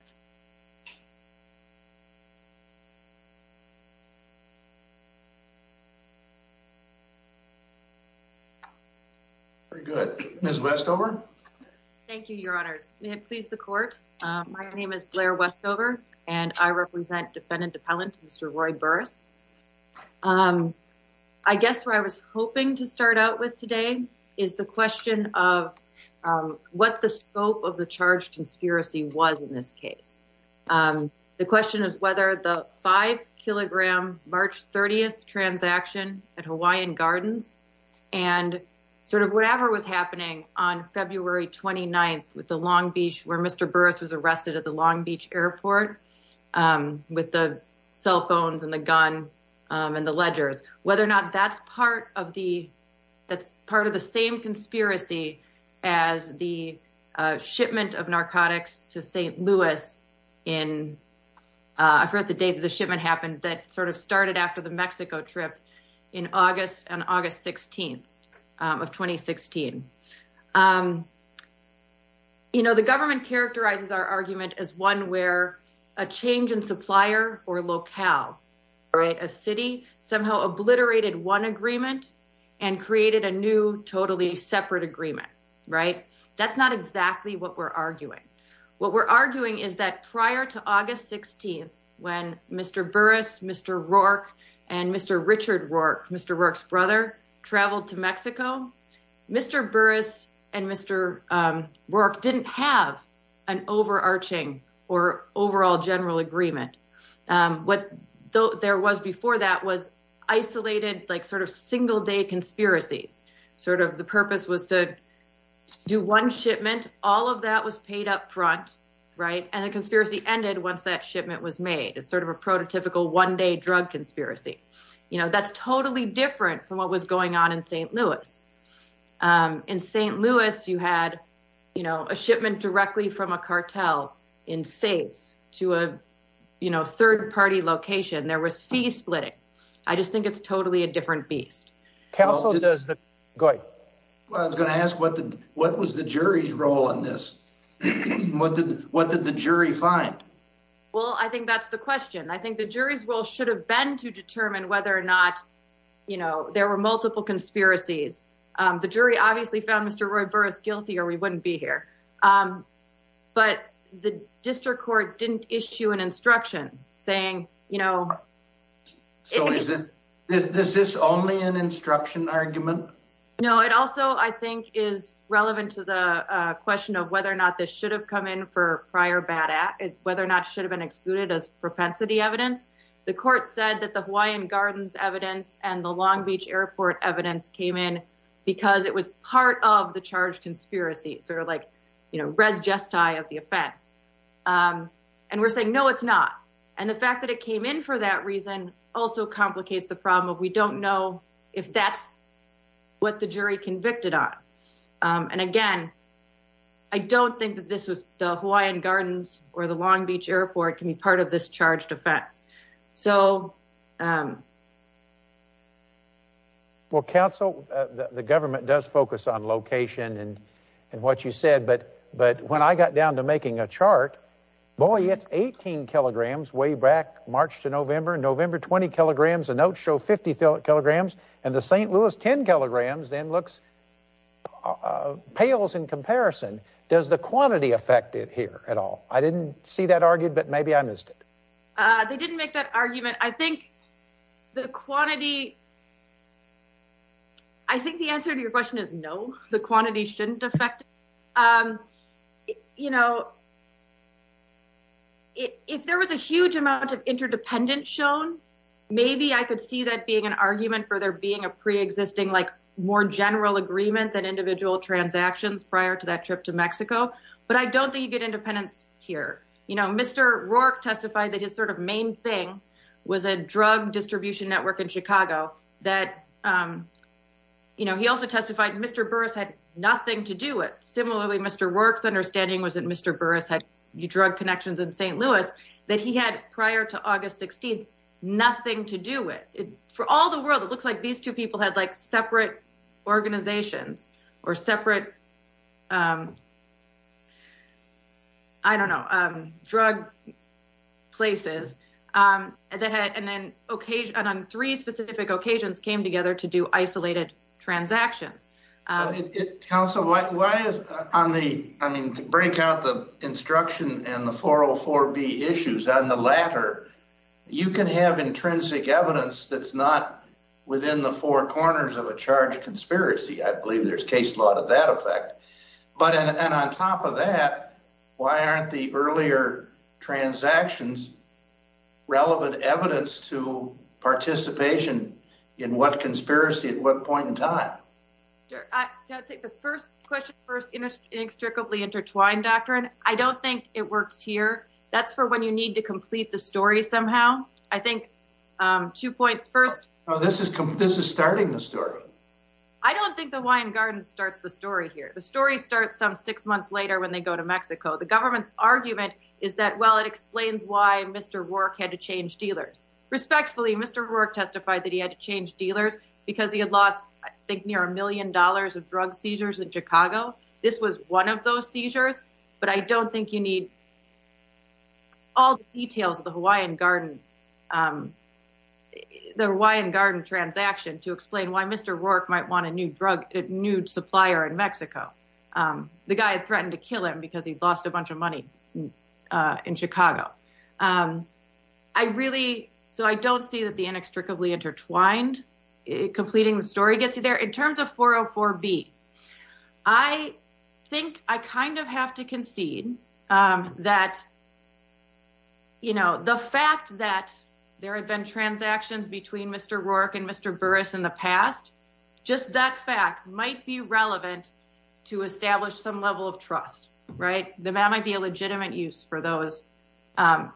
I guess where I was hoping to start out with today is the question of what the scope of the charge conspiracy was in this case. The question is whether the five kilogram March 30th transaction at Hawaiian Gardens and sort of whatever was happening on February 29th with the Long Beach where Mr. Burris was arrested at the Long Beach airport with the cell phones and the gun and the ledgers, whether or not that's part of the that's part of the same conspiracy as the shipment of narcotics to St. Louis in the day that the shipment happened that sort of started after the Mexico trip in August and August 16th of 2016. You know, the government characterizes our argument as one where a change in supplier or locale, a city somehow obliterated one agreement and created a new totally separate agreement. Right. That's not exactly what we're arguing. What we're arguing is that prior to August 16th, when Mr. Burris, Mr. Rourke and Mr. Richard Rourke, Mr. Rourke's brother, traveled to Mexico, Mr. Burris and Mr. Rourke didn't have an overarching or overall general agreement. What there was before that was isolated, like sort of single day conspiracies, sort of the purpose was to do one shipment. All of that was paid up front. Right. And the conspiracy ended once that shipment was made. It's sort of a prototypical one day drug conspiracy. You know, that's totally different from what was going on in St. Louis. In St. Louis, there was, you know, third party location, there was fee splitting. I just think it's totally a different beast. Counsel does that. Go ahead. I was going to ask what the what was the jury's role in this? What did what did the jury find? Well, I think that's the question. I think the jury's role should have been to determine whether or not, you know, there were multiple conspiracies. The jury obviously found Mr. Roy Burris guilty or we wouldn't be here. But the district court didn't issue an instruction saying, you know. So is this only an instruction argument? No, it also, I think, is relevant to the question of whether or not this should have come in for prior bad act, whether or not should have been excluded as propensity evidence. The court said that the Hawaiian Gardens evidence and the Long Beach airport evidence came in because it was part of the charge conspiracy. Sort of like, you know, res gesti of the offense. And we're saying, no, it's not. And the fact that it came in for that reason also complicates the problem of we don't know if that's what the jury convicted on. And again, I don't think that this was the Hawaiian Gardens or the Long Beach airport can be part of this charged offense. So. Well, counsel, the government does focus on location and and what you said, but but when I got down to making a chart, boy, it's 18 kilograms way back March to November, November, 20 kilograms, a note show 50 kilograms and the St. Louis 10 kilograms then looks pales in comparison. Does the quantity affect it here at all? I didn't see that argued, but maybe I missed it. They didn't make that argument. I think the quantity. I think the answer to your question is, no, the quantity shouldn't affect, you know. If there was a huge amount of interdependence shown, maybe I could see that being an argument for there being a preexisting, like more general agreement than individual transactions prior to that trip to Mexico. But I don't think you get independence here. You know, Mr. Rourke testified that his sort of main thing was a drug distribution network in Chicago, that, you know, he also testified Mr. Burris had nothing to do with. Similarly, Mr. Rourke's understanding was that Mr. Burris had drug connections in St. Louis that he had prior to August 16th, nothing to do with it for all the world. It looks like these two people had like separate organizations or separate, I don't know, drug places that had an occasion on three specific occasions came together to do isolated transactions. Council, why is on the, I mean, to break out the instruction and the 404B issues on the latter, you can have intrinsic evidence that's not within the four corners of a charge conspiracy. I believe there's case law to that effect, but, and on top of that, why aren't the earlier transactions relevant evidence to participation in what conspiracy at what point in time? I think the first question, first inextricably intertwined doctrine. I don't think it works here. That's for when you need to complete the story somehow. I think two points. First, this is this is starting the story. I don't think the wine garden starts the story here. The story starts some six months later when they go to Mexico. The government's argument is that, well, it explains why Mr. Rourke had to change dealers. Respectfully, Mr. Rourke testified that he had to change dealers because he had lost, I think, near a million dollars of drug seizures in Chicago. This was one of those seizures. But I don't think you need. All the details of the Hawaiian garden, the Hawaiian garden transaction to explain why Mr. Rourke might want a new drug, a new supplier in Mexico. The guy had threatened to kill him because he'd lost a bunch of money in Chicago. I really so I don't see that the inextricably intertwined completing the story gets you there in terms of 404B. I think I kind of have to concede that. You know, the fact that there have been transactions between Mr. Rourke and Mr. Burris in the past, just that fact might be relevant to establish some level of trust. Right. That might be a legitimate use for those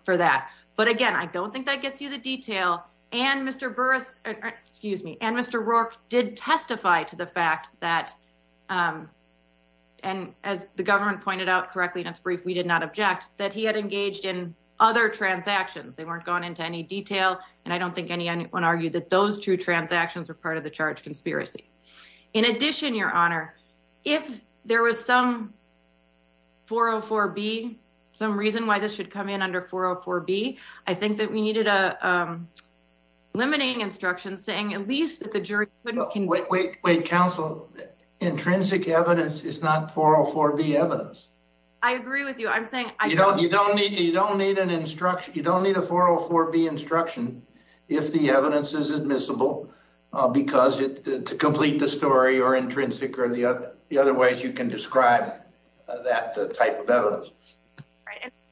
for that. But again, I don't think that gets you the detail. And Mr. Burris, excuse me, and Mr. Rourke did testify to the fact that and as the government pointed out correctly in its brief, we did not object that he had engaged in other transactions. They weren't going into any detail. And I don't think anyone argued that those two transactions are part of the charge conspiracy. In addition, Your Honor, if there was some 404B, some reason why this should come in under 404B, I think that we needed a limiting instruction saying at least that the jury can wait, wait, wait, counsel. Intrinsic evidence is not 404B evidence. I agree with you. I'm saying you don't need you don't need an instruction. You don't need a 404B instruction if the evidence is admissible because to complete the story or intrinsic or the other ways you can describe that type of evidence.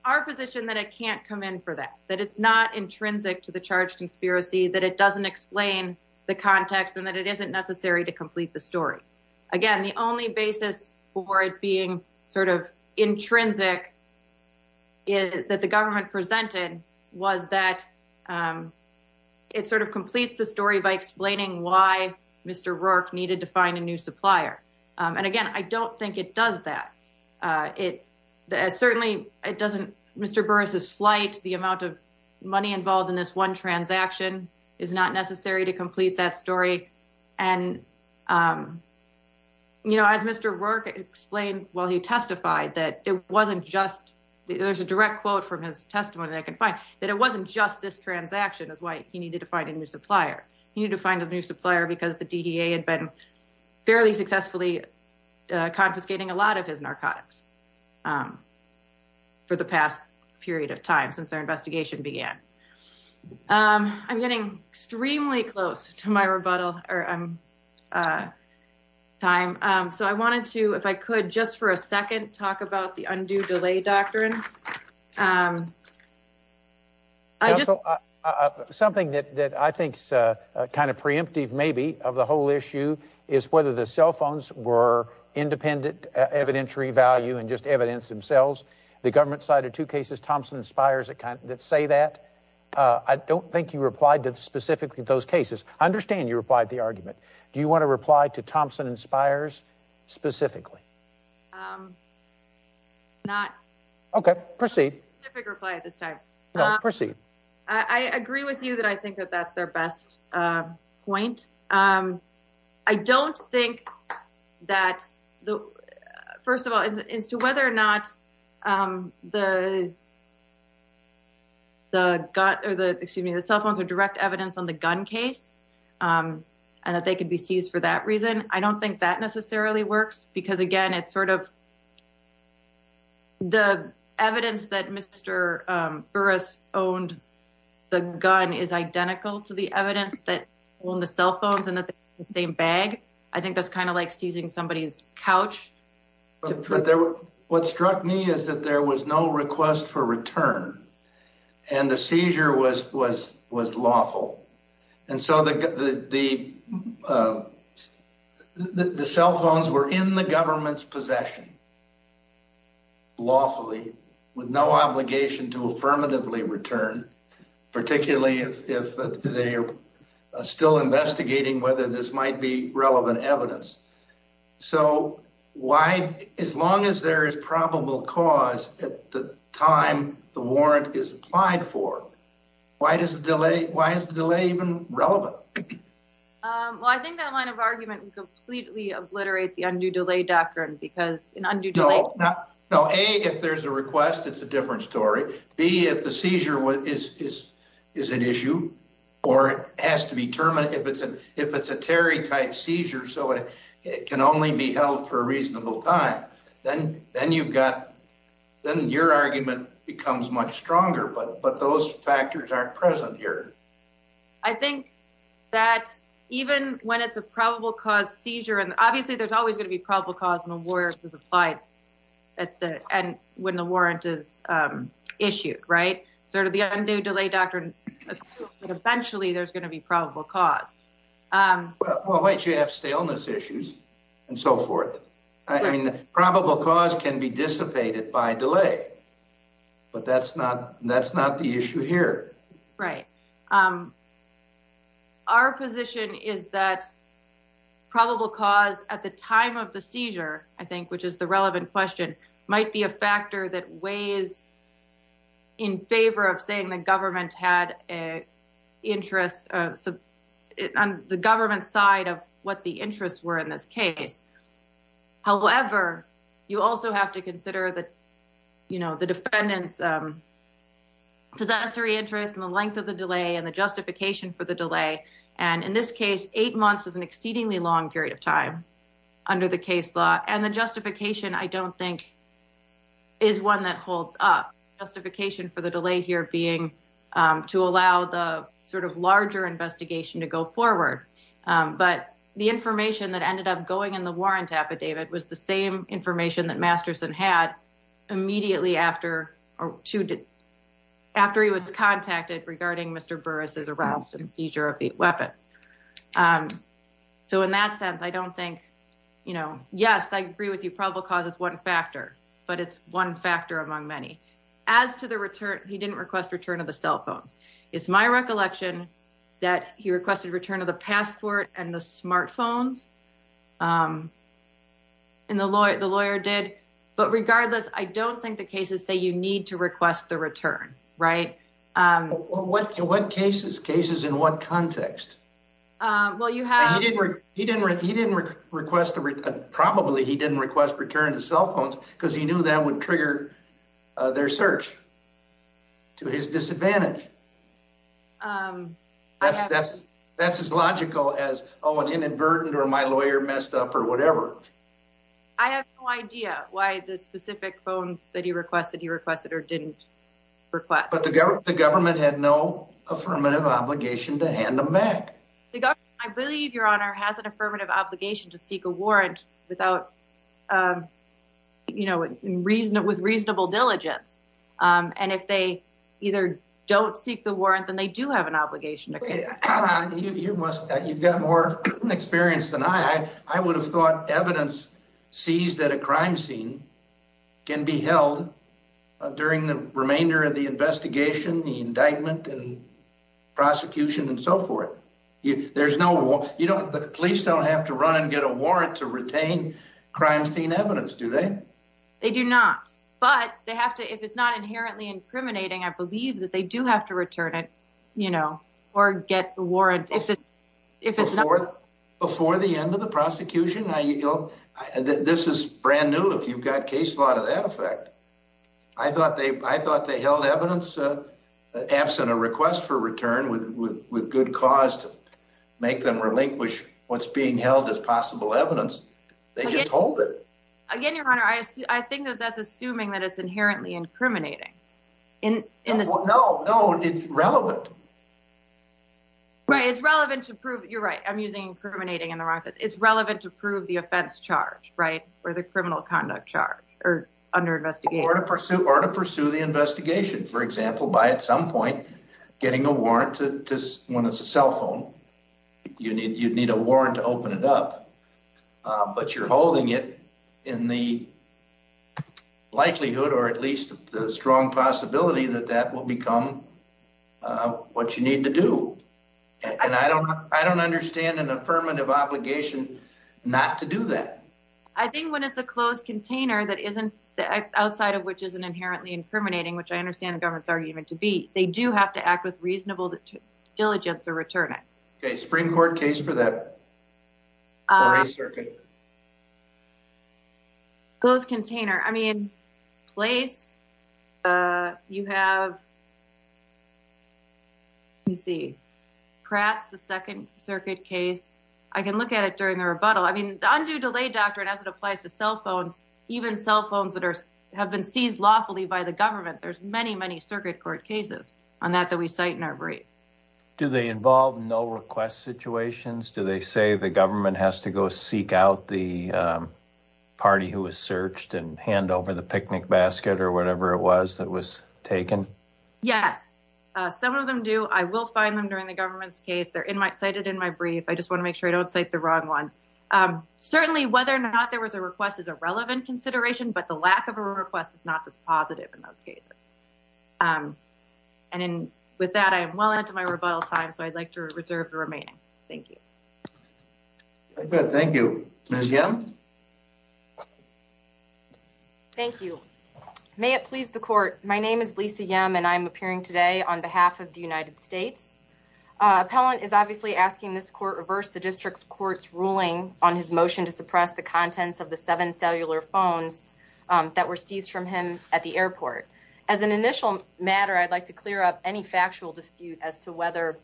Our position that it can't come in for that, that it's not intrinsic to the charge conspiracy, that it doesn't explain the context and that it isn't necessary to complete the story. Again, the only basis for it being sort of intrinsic is that the government presented was that it sort of completes the story by explaining why Mr. Rourke needed to find a new supplier. And again, I don't think it does that. It certainly it doesn't. Mr. Burris's flight, the amount of money involved in this one transaction is not necessary to complete that story. And, you know, as Mr. Rourke explained while he testified that it wasn't just there's a direct quote from his testimony that I can find that it wasn't just this transaction is why he needed to find a new supplier. He needed to find a new supplier because the DEA had been fairly successfully confiscating a lot of his narcotics for the past period of time since their investigation began. I'm getting extremely close to my rebuttal time, so I wanted to, if I could, just for a second, talk about the undue delay doctrine. I just something that I think is kind of preemptive, maybe of the whole issue is whether the cell phones were independent, evidentiary value and just evidence themselves. The government cited two cases, Thompson and Spires, that say that. I don't think you replied to specifically those cases. I understand you replied the argument. Do you want to reply to Thompson and Spires specifically? Not. OK, proceed. Specific reply at this time. Proceed. I agree with you that I think that that's their best point. I don't think that the first of all is to whether or not the. The excuse me, the cell phones are direct evidence on the gun case and that they could be seized for that reason, I don't think that necessarily works because, again, it's sort of. The evidence that Mr. Burris owned the gun is identical to the evidence that on the cell phones and that the same bag, I think that's kind of like seizing somebody's couch. What struck me is that there was no request for return and the seizure was was was lawful. And so the the the cell phones were in the government's possession. Lawfully, with no obligation to affirmatively return, particularly if they are still investigating whether this might be relevant evidence. So why, as long as there is probable cause at the time the warrant is applied for, why does the delay? Why is the delay even relevant? Well, I think that line of argument completely obliterate the undue delay doctrine, because an undue delay. No. A, if there's a request, it's a different story. B, if the seizure is an issue or has to be terminated, if it's a Terry type seizure, so it can only be held for a reasonable time, then you've got, then your argument becomes much stronger. But those factors aren't present here. I think that even when it's a probable cause seizure, and obviously there's always going to be probable cause when the warrant is applied at the end, when the warrant is issued. Right. Sort of the undue delay doctrine. Eventually, there's going to be probable cause. Well, you have staleness issues and so forth. I mean, the probable cause can be dissipated by delay, but that's not that's not the issue here. Right. Our position is that probable cause at the time of the seizure, I think, which is the relevant question, might be a factor that weighs in favor of saying the government had a interest on the government side of what the interests were in this case. However, you also have to consider that, you know, the defendant's possessory interest in the length of the delay and the justification for the delay. And in this case, eight months is an exceedingly long period of time under the case law. And the justification I don't think is one that holds up justification for the delay here being to allow the sort of larger investigation to go forward. But the information that ended up going in the warrant affidavit was the same information that Masterson had immediately after or to after he was contacted regarding Mr. Burris's arrest and seizure of the weapon. So in that sense, I don't think, you know, yes, I agree with you. And the lawyer did. But regardless, I don't think the cases say you need to request the return. Right? What what cases cases in what context? Well, you have he didn't. He didn't. He didn't request the return. Probably. He didn't request the return. Because he knew that would trigger their search to his disadvantage. That's that's that's as logical as, oh, an inadvertent or my lawyer messed up or whatever. I have no idea why the specific phone that he requested, he requested or didn't request. But the government, the government had no affirmative obligation to hand them back. I believe your honor has an affirmative obligation to seek a warrant without, you know, reason it was reasonable diligence. And if they either don't seek the warrant, then they do have an obligation. You must you've got more experience than I. I would have thought evidence seized at a crime scene can be held during the remainder of the investigation, the indictment and prosecution and so forth. If there's no law, you don't the police don't have to run and get a warrant to retain crime scene evidence, do they? They do not. But they have to. If it's not inherently incriminating, I believe that they do have to return it, you know, or get the warrant. If it's before the end of the prosecution, you know, this is brand new. If you've got case law to that effect, I thought they I thought they held evidence absent a request for return with good cause to make them relinquish what's being held as possible evidence. They just hold it. Again, your honor, I think that that's assuming that it's inherently incriminating in. No, no. It's relevant. Right. It's relevant to prove. You're right. I'm using incriminating in the right. It's relevant to prove the offense charge. Right. Or the criminal conduct charge or under investigation or to pursue or to pursue the investigation, for example, by at some point getting a warrant to when it's a cell phone. You need you'd need a warrant to open it up, but you're holding it in the likelihood or at least the strong possibility that that will become what you need to do. And I don't I don't understand an affirmative obligation not to do that. I think when it's a closed container, that isn't the outside of which is an inherently incriminating, which I understand the government's argument to be. They do have to act with reasonable diligence or return it. A Supreme Court case for that. Close container. I mean, place you have. You see, perhaps the Second Circuit case, I can look at it during the rebuttal. I mean, the undue delay doctrine as it applies to cell phones, even cell phones that have been seized lawfully by the government. There's many, many circuit court cases on that that we cite in our brief. Do they involve no request situations? Do they say the government has to go seek out the party who was searched and hand over the picnic basket or whatever it was that was taken? Yes, some of them do. I will find them during the government's case. They're in my cited in my brief. I just want to make sure I don't cite the wrong ones. Certainly, whether or not there was a request is a relevant consideration, but the lack of a request is not this positive in those cases. And with that, I am well into my rebuttal time. So I'd like to reserve the remaining. Good. Thank you again. Thank you. May it please the court. My name is Lisa Young, and I'm appearing today on behalf of the United States. Appellant is obviously asking this court reverse the district court's ruling on his motion to suppress the contents of the seven cellular phones that were seized from him at the airport. As an initial matter, I'd like to clear up any factual dispute as to whether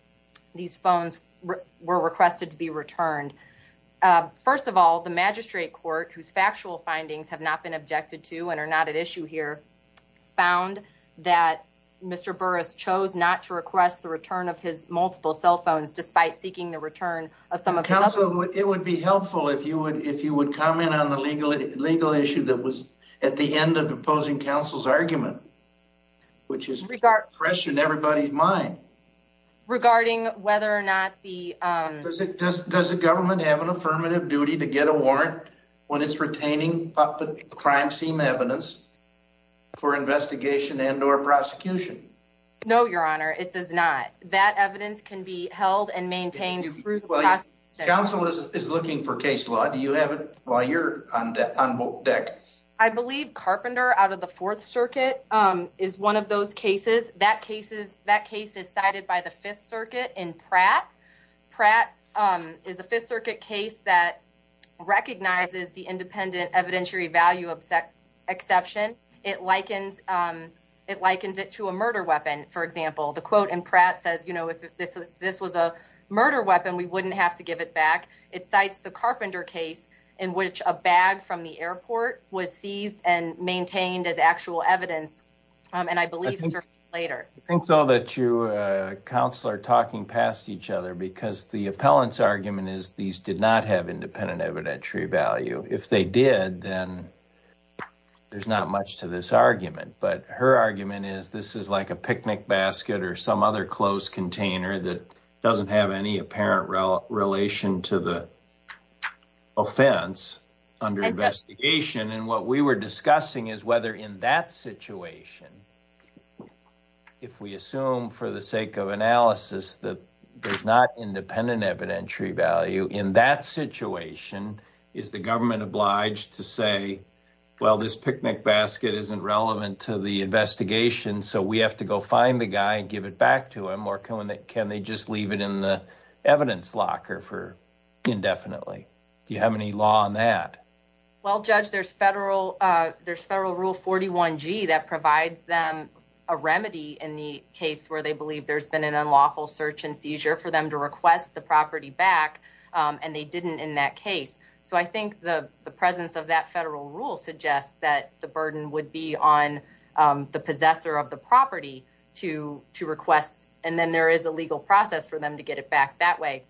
these phones were requested to be returned. First of all, the magistrate court, whose factual findings have not been objected to and are not at issue here, found that Mr. Burris chose not to request the return of his multiple cell phones, despite seeking the return of some. Counsel, it would be helpful if you would, if you would comment on the legal legal issue that was at the end of opposing counsel's argument, which is regarding pressure and everybody's mind. Regarding whether or not the government have an affirmative duty to get a warrant when it's retaining the crime scene evidence for investigation and or prosecution. No, your honor, it does not. That evidence can be held and maintained. Counsel is looking for case law. Do you have it while you're on deck? I believe Carpenter out of the Fourth Circuit is one of those cases. That case is that case is cited by the Fifth Circuit in Pratt. Pratt is a Fifth Circuit case that recognizes the independent evidentiary value of that exception. It likens it likens it to a murder weapon. For example, the quote in Pratt says, you know, if this was a murder weapon, we wouldn't have to give it back. It cites the Carpenter case in which a bag from the airport was seized and maintained as actual evidence. And I believe later. So that you counselor talking past each other because the appellant's argument is these did not have independent evidentiary value. If they did, then there's not much to this argument. But her argument is this is like a picnic basket or some other clothes container that doesn't have any apparent relation to the offense under investigation. And what we were discussing is whether in that situation, if we assume for the sake of analysis that there's not independent evidentiary value in that situation. Is the government obliged to say, well, this picnic basket isn't relevant to the investigation. So we have to go find the guy and give it back to him. Or can they just leave it in the evidence locker for indefinitely? Do you have any law on that? Well, judge, there's federal there's federal rule 41 G that provides them a remedy in the case where they believe there's been an unlawful search and seizure for them to request the property back. And they didn't in that case. So I think the presence of that federal rule suggests that the burden would be on the possessor of the property to to request. And then there is a legal process for them to get it back that way.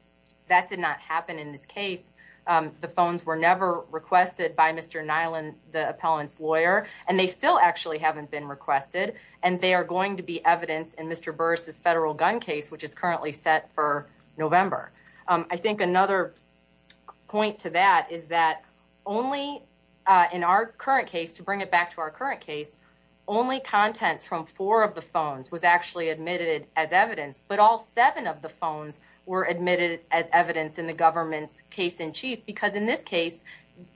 That did not happen in this case. The phones were never requested by Mr. Nyland, the appellant's lawyer, and they still actually haven't been requested. And they are going to be evidence in Mr. Burris's federal gun case, which is currently set for November. I think another point to that is that only in our current case, to bring it back to our current case. Only contents from four of the phones was actually admitted as evidence, but all seven of the phones were admitted as evidence in the government's case in chief. Because in this case,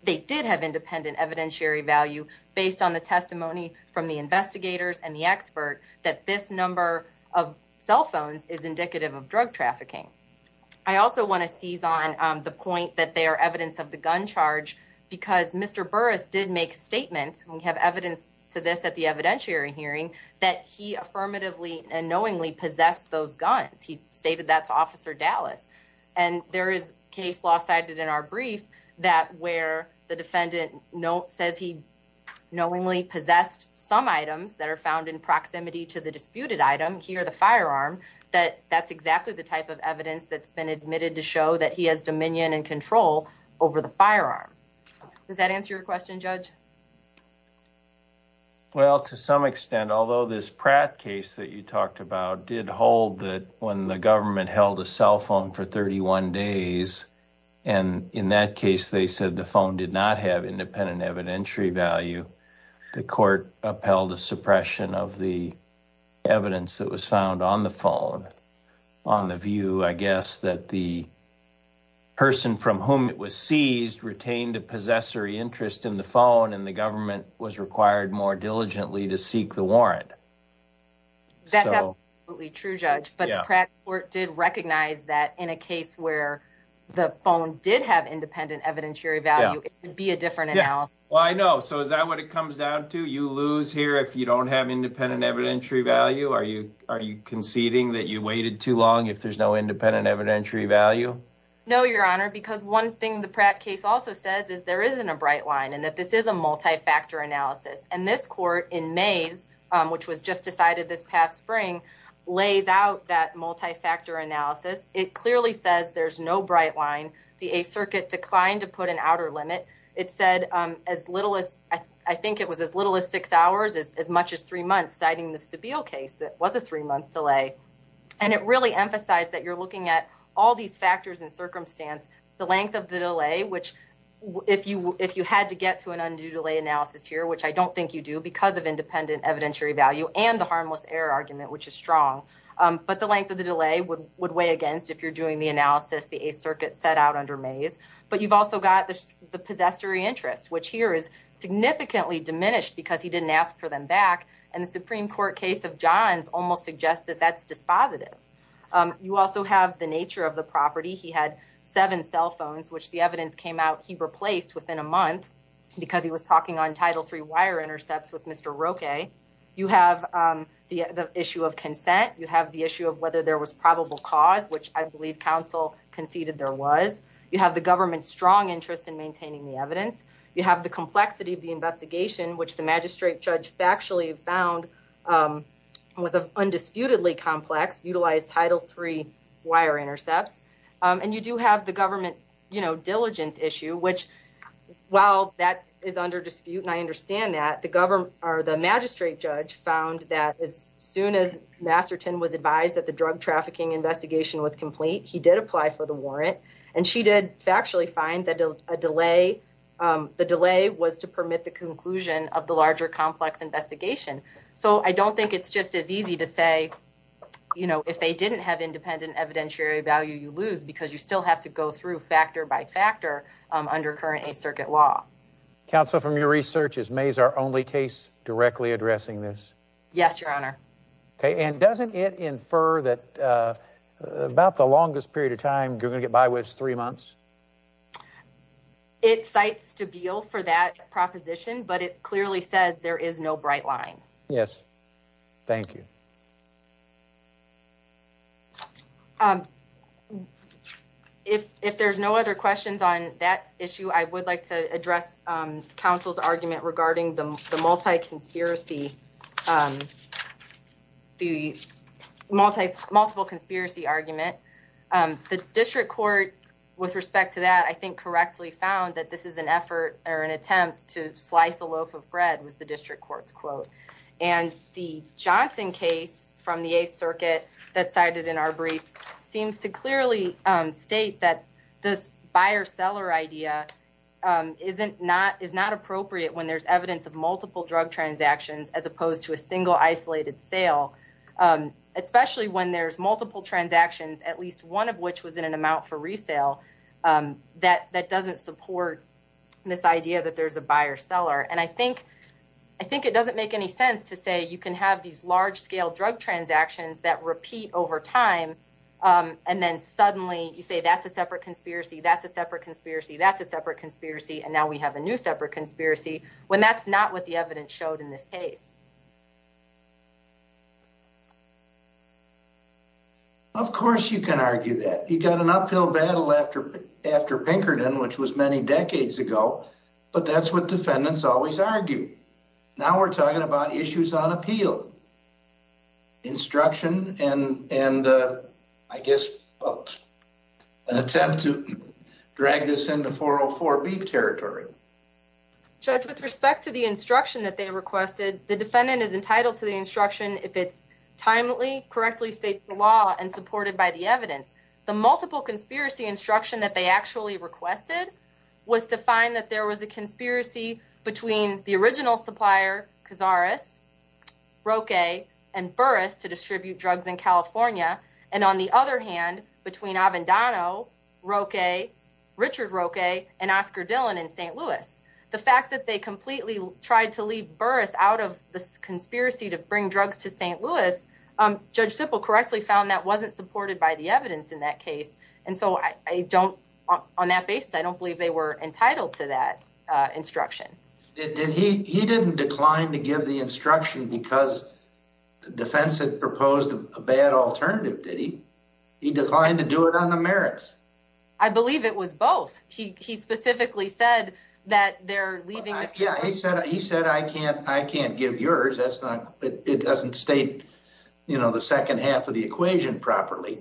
they did have independent evidentiary value based on the testimony from the investigators and the expert that this number of cell phones is indicative of drug trafficking. I also want to seize on the point that they are evidence of the gun charge because Mr. Burris did make statements. We have evidence to this at the evidentiary hearing that he affirmatively and knowingly possessed those guns. He stated that to Officer Dallas. And there is case law cited in our brief that where the defendant says he knowingly possessed some items that are found in proximity to the disputed item. Here, the firearm that that's exactly the type of evidence that's been admitted to show that he has dominion and control over the firearm. Does that answer your question, Judge? Well, to some extent, although this Pratt case that you talked about did hold that when the government held a cell phone for 31 days. And in that case, they said the phone did not have independent evidentiary value. The court upheld a suppression of the evidence that was found on the phone on the view. I guess that the person from whom it was seized retained a possessory interest in the phone and the government was required more diligently to seek the warrant. That's absolutely true, Judge. But the Pratt court did recognize that in a case where the phone did have independent evidentiary value, it would be a different analysis. Well, I know. So is that what it comes down to? You lose here if you don't have independent evidentiary value. Are you are you conceding that you waited too long if there's no independent evidentiary value? No, Your Honor, because one thing the Pratt case also says is there isn't a bright line and that this is a multi-factor analysis. And this court in May's, which was just decided this past spring, lays out that multi-factor analysis. It clearly says there's no bright line. The 8th Circuit declined to put an outer limit. It said as little as I think it was as little as six hours, as much as three months, citing the Stabile case that was a three month delay. And it really emphasized that you're looking at all these factors and circumstance, the length of the delay, which if you if you had to get to an undue delay analysis here, you don't think you do because of independent evidentiary value and the harmless error argument, which is strong. But the length of the delay would would weigh against if you're doing the analysis the 8th Circuit set out under May's. But you've also got the possessory interest, which here is significantly diminished because he didn't ask for them back. And the Supreme Court case of John's almost suggested that's dispositive. You also have the nature of the property. He had seven cell phones, which the evidence came out he replaced within a month because he was talking on Title III wire intercepts with Mr. Roque. You have the issue of consent. You have the issue of whether there was probable cause, which I believe counsel conceded there was. You have the government's strong interest in maintaining the evidence. You have the complexity of the investigation, which the magistrate judge factually found was of undisputedly complex, utilized Title III wire intercepts. And you do have the government, you know, diligence issue, which, well, that is under dispute. And I understand that the government or the magistrate judge found that as soon as Masterton was advised that the drug trafficking investigation was complete, he did apply for the warrant. And she did factually find that a delay. The delay was to permit the conclusion of the larger complex investigation. So I don't think it's just as easy to say, you know, if they didn't have independent evidentiary value, you lose because you still have to go through factor by factor under current Eighth Circuit law. Counsel, from your research, is May's our only case directly addressing this? Yes, Your Honor. Okay. And doesn't it infer that about the longest period of time you're going to get by with is three months? It cites to be ill for that proposition, but it clearly says there is no bright line. Yes. Thank you. If there's no other questions on that issue, I would like to address counsel's argument regarding the multi conspiracy. The multiple conspiracy argument. The district court, with respect to that, I think correctly found that this is an effort or an attempt to slice a loaf of bread was the district court's quote. And the Johnson case from the Eighth Circuit that cited in our brief seems to clearly state that this buyer seller idea. Isn't not is not appropriate when there's evidence of multiple drug transactions as opposed to a single isolated sale, especially when there's multiple transactions, at least one of which was in an amount for resale that that doesn't support this idea that there's a buyer seller. And I think I think it doesn't make any sense to say you can have these large scale drug transactions that repeat over time. And then suddenly you say that's a separate conspiracy. That's a separate conspiracy. That's a separate conspiracy. And now we have a new separate conspiracy when that's not what the evidence showed in this case. Of course, you can argue that you got an uphill battle after after Pinkerton, which was many decades ago, but that's what defendants always argue. Now we're talking about issues on appeal. Instruction and and I guess an attempt to drag this into 404 beep territory. Judge, with respect to the instruction that they requested, the defendant is entitled to the instruction if it's timely, correctly state the law and supported by the evidence. The multiple conspiracy instruction that they actually requested was to find that there was a conspiracy between the original supplier. Cazares, Roque and Burris to distribute drugs in California. And on the other hand, between Avendano, Roque, Richard Roque and Oscar Dillon in St. Louis. The fact that they completely tried to leave Burris out of this conspiracy to bring drugs to St. Louis, Judge Simple correctly found that wasn't supported by the evidence in that case. And so I don't on that basis. I don't believe they were entitled to that instruction. And he didn't decline to give the instruction because the defense had proposed a bad alternative. Did he? He declined to do it on the merits. I believe it was both. He specifically said that they're leaving. Yeah, he said he said, I can't I can't give yours. That's not it doesn't state, you know, the second half of the equation properly.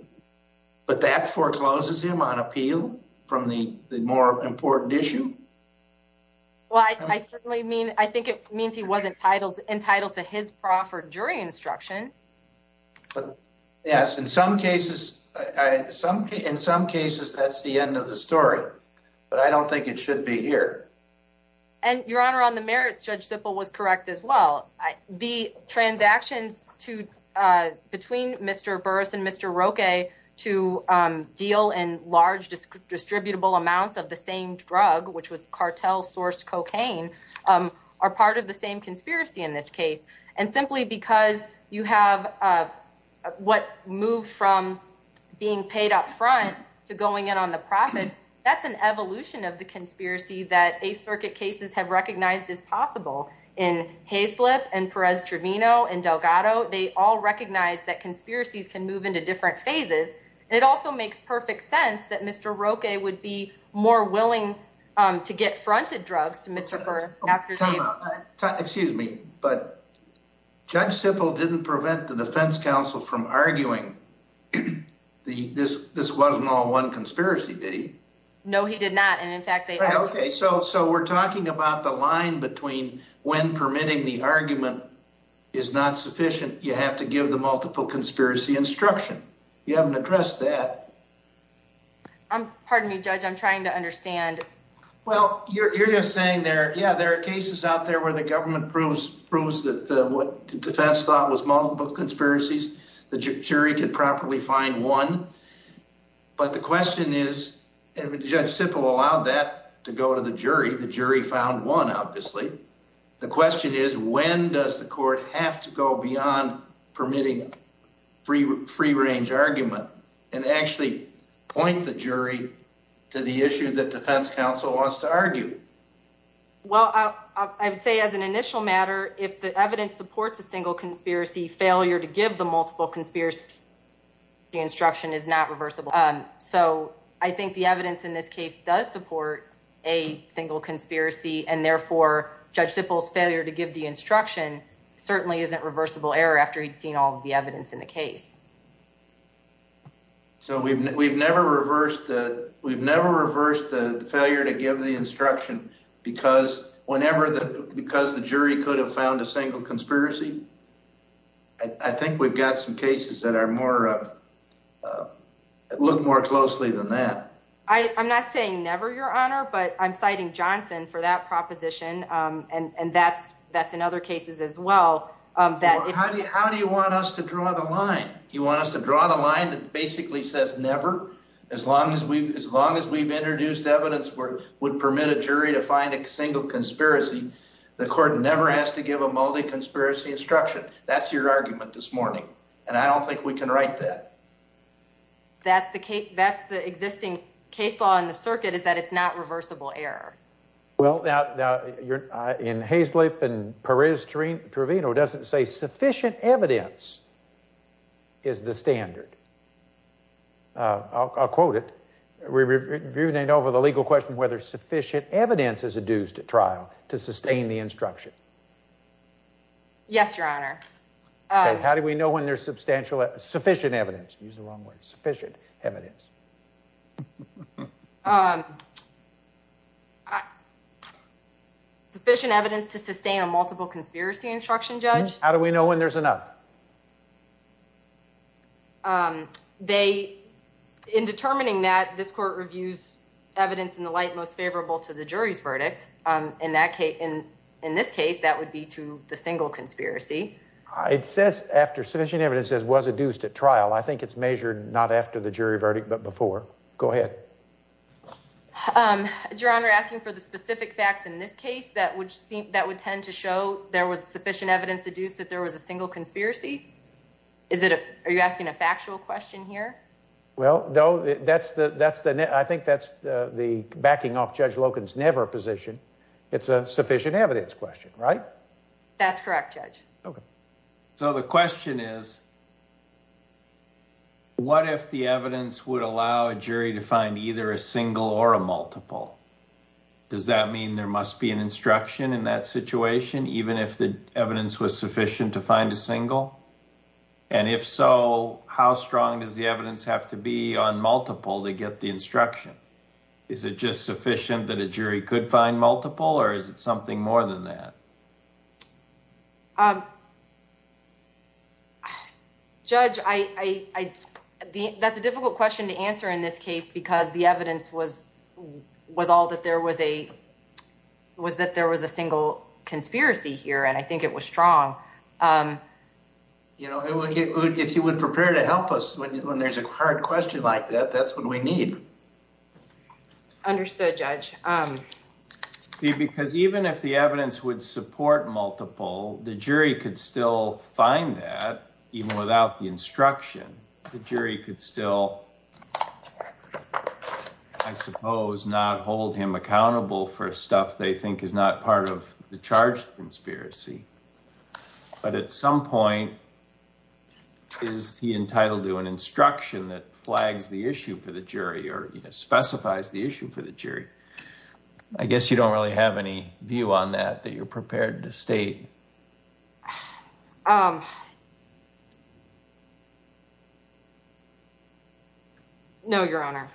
But that forecloses him on appeal from the more important issue. Well, I mean, I think it means he wasn't titled entitled to his proffer jury instruction. But yes, in some cases, some in some cases, that's the end of the story. But I don't think it should be here. And Your Honor, on the merits, Judge Simple was correct as well. The transactions to between Mr. Burris and Mr. Roque to deal in large distributable amounts of the same drug, which was cartel sourced cocaine, are part of the same conspiracy in this case. And simply because you have what moved from being paid up front to going in on the profits. That's an evolution of the conspiracy that a circuit cases have recognized as possible in Hayslip and Perez Trevino and Delgado. They all recognize that conspiracies can move into different phases. It also makes perfect sense that Mr. Roque would be more willing to get fronted drugs to Mr. Burris. Excuse me, but Judge Simple didn't prevent the defense counsel from arguing the this. This wasn't all one conspiracy, did he? No, he did not. And in fact, they. OK, so so we're talking about the line between when permitting the argument is not sufficient. You have to give the multiple conspiracy instruction. You haven't addressed that. I'm pardon me, Judge. I'm trying to understand. Well, you're saying there. Yeah, there are cases out there where the government proves proves that what the defense thought was multiple conspiracies. The jury could properly find one. But the question is, Judge Simple allowed that to go to the jury. The jury found one, obviously. The question is, when does the court have to go beyond permitting free free range argument and actually point the jury to the issue that defense counsel wants to argue? Well, I would say as an initial matter, if the evidence supports a single conspiracy failure to give the multiple conspiracy instruction is not reversible. So I think the evidence in this case does support a single conspiracy. And therefore, Judge Simple's failure to give the instruction certainly isn't reversible error after he'd seen all of the evidence in the case. So we've we've never reversed that. We've never reversed the failure to give the instruction because whenever the because the jury could have found a single conspiracy. I think we've got some cases that are more look more closely than that. I'm not saying never, Your Honor, but I'm citing Johnson for that proposition. And that's that's in other cases as well. How do you how do you want us to draw the line? You want us to draw the line that basically says never as long as we as long as we've introduced evidence would permit a jury to find a single conspiracy. The court never has to give a multi conspiracy instruction. That's your argument this morning. And I don't think we can write that. That's the case. That's the existing case law in the circuit is that it's not reversible error. Well, now you're in Haislip and Perez Trevino doesn't say sufficient evidence is the standard. I'll quote it. We reviewed it over the legal question whether sufficient evidence is adduced at trial to sustain the instruction. Yes, Your Honor. How do we know when there's substantial sufficient evidence use the wrong word sufficient evidence? Sufficient evidence to sustain a multiple conspiracy instruction judge. How do we know when there's enough? They in determining that this court reviews evidence in the light most favorable to the jury's verdict in that case. And in this case, that would be to the single conspiracy. It says after sufficient evidence as was adduced at trial. I think it's measured not after the jury verdict, but before. Go ahead. Your Honor asking for the specific facts in this case. That would seem that would tend to show there was sufficient evidence to do is that there was a single conspiracy. Is it? Are you asking a factual question here? Well, though, that's the that's the net. I think that's the backing off. Judge Locke is never a position. It's a sufficient evidence question, right? That's correct, Judge. So the question is. What if the evidence would allow a jury to find either a single or a multiple? Does that mean there must be an instruction in that situation, even if the evidence was sufficient to find a single? And if so, how strong does the evidence have to be on multiple to get the instruction? Is it just sufficient that a jury could find multiple or is it something more than that? Um. Judge, I think that's a difficult question to answer in this case because the evidence was was all that there was a was that there was a single conspiracy here. And I think it was strong. You know, if you would prepare to help us when there's a hard question like that, that's what we need. Understood, Judge. Because even if the evidence would support multiple, the jury could still find that even without the instruction, the jury could still. I suppose not hold him accountable for stuff they think is not part of the charge conspiracy. But at some point. Is he entitled to an instruction that flags the issue for the jury or specifies the issue for the jury? I guess you don't really have any view on that that you're prepared to state. No, Your Honor.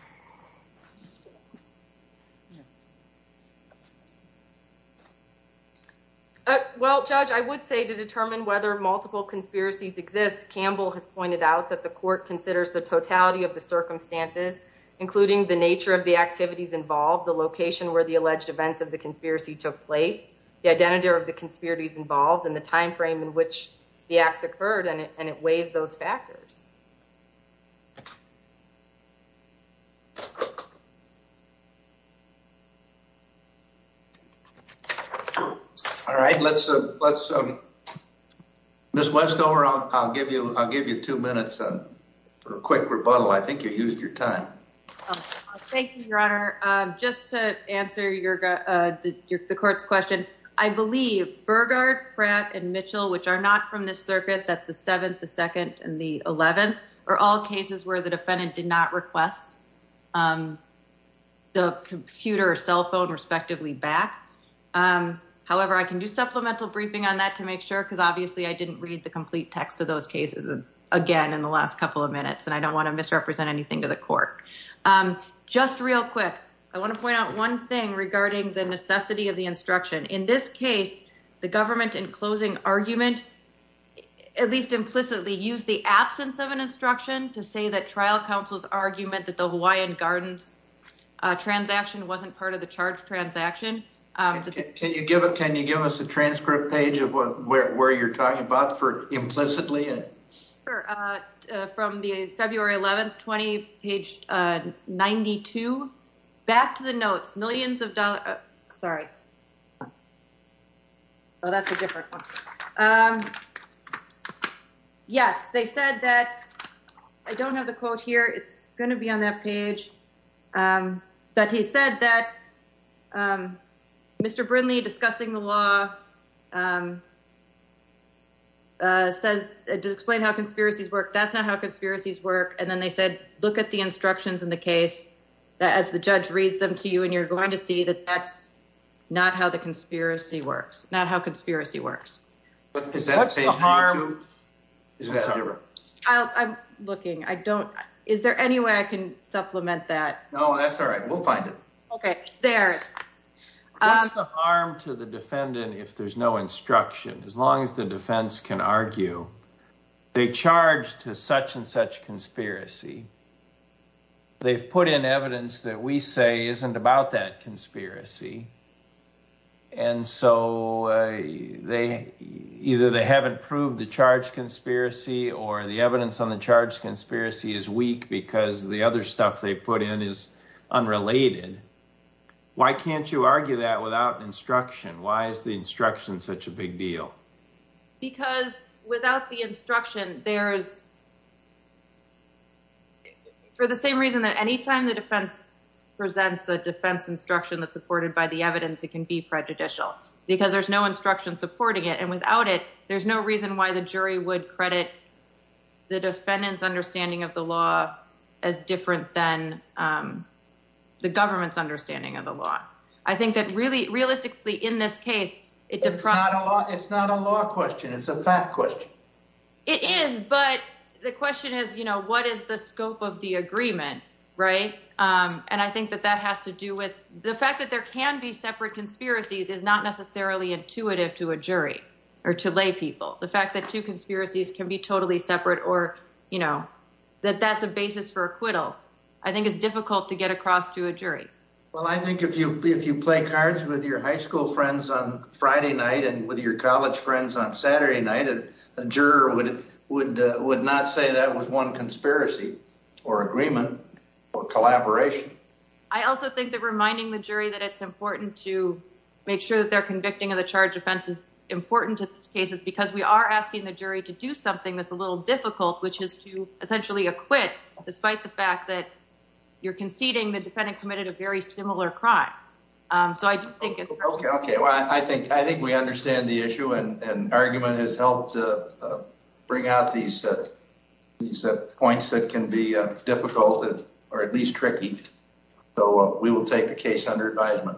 Well, Judge, I would say to determine whether multiple conspiracies exist. Campbell has pointed out that the court considers the totality of the circumstances, including the nature of the activities involved, the location where the alleged events of the conspiracy took place. The identity of the conspiracies involved in the time frame in which the acts occurred, and it weighs those factors. All right, let's let's. Miss Westover, I'll give you I'll give you two minutes for a quick rebuttal. I think you used your time. Thank you, Your Honor. Just to answer your the court's question. I believe Burgard, Pratt and Mitchell, which are not from this circuit. That's the 7th, the 2nd and the 11th are all cases where the defendant did not request. The computer or cell phone respectively back. However, I can do supplemental briefing on that to make sure, because obviously I didn't read the complete text of those cases again in the last couple of minutes, and I don't want to misrepresent anything to the court. Just real quick. I want to point out one thing regarding the necessity of the instruction. In this case, the government in closing argument, at least implicitly use the absence of an instruction to say that trial counsel's argument that the Hawaiian Gardens transaction wasn't part of the charge transaction. Can you give it? Can you give us a transcript page of where you're talking about for implicitly? From the February 11th, 20 page 92. Back to the notes. Millions of dollars. Sorry. Oh, that's a different one. Yes. They said that I don't have the quote here. It's going to be on that page. That he said that Mr. Brinley discussing the law. Says it does explain how conspiracies work. That's not how conspiracies work. And then they said, look at the instructions in the case as the judge reads them to you. And you're going to see that. That's not how the conspiracy works, not how conspiracy works. I'm looking. I don't. Is there any way I can supplement that? No, that's all right. We'll find it. Okay. There's the harm to the defendant. If there's no instruction, as long as the defense can argue, they charge to such and such conspiracy. They've put in evidence that we say isn't about that conspiracy. And so they either they haven't proved the charge conspiracy or the evidence on the charge. Conspiracy is weak because the other stuff they put in is unrelated. Why can't you argue that without instruction? Why is the instruction such a big deal? Because without the instruction, there is. For the same reason that any time the defense presents a defense instruction that supported by the evidence, it can be prejudicial because there's no instruction supporting it. And without it, there's no reason why the jury would credit the defendant's understanding of the law as different than the government's understanding of the law. I think that really realistically in this case, it's not a law question. It's a fact question. It is. But the question is, you know, what is the scope of the agreement? Right. And I think that that has to do with the fact that there can be separate conspiracies is not necessarily intuitive to a jury or to lay people. The fact that two conspiracies can be totally separate or, you know, that that's a basis for acquittal. I think it's difficult to get across to a jury. Well, I think if you if you play cards with your high school friends on Friday night and with your college friends on Saturday night, a juror would would would not say that was one conspiracy or agreement or collaboration. I also think that reminding the jury that it's important to make sure that they're convicting of the charge defense is important to these cases because we are asking the jury to do something that's a little difficult, which is to essentially acquit. Despite the fact that you're conceding the defendant committed a very similar crime. OK, well, I think I think we understand the issue and argument has helped to bring out these points that can be difficult or at least tricky. So we will take the case under advisement.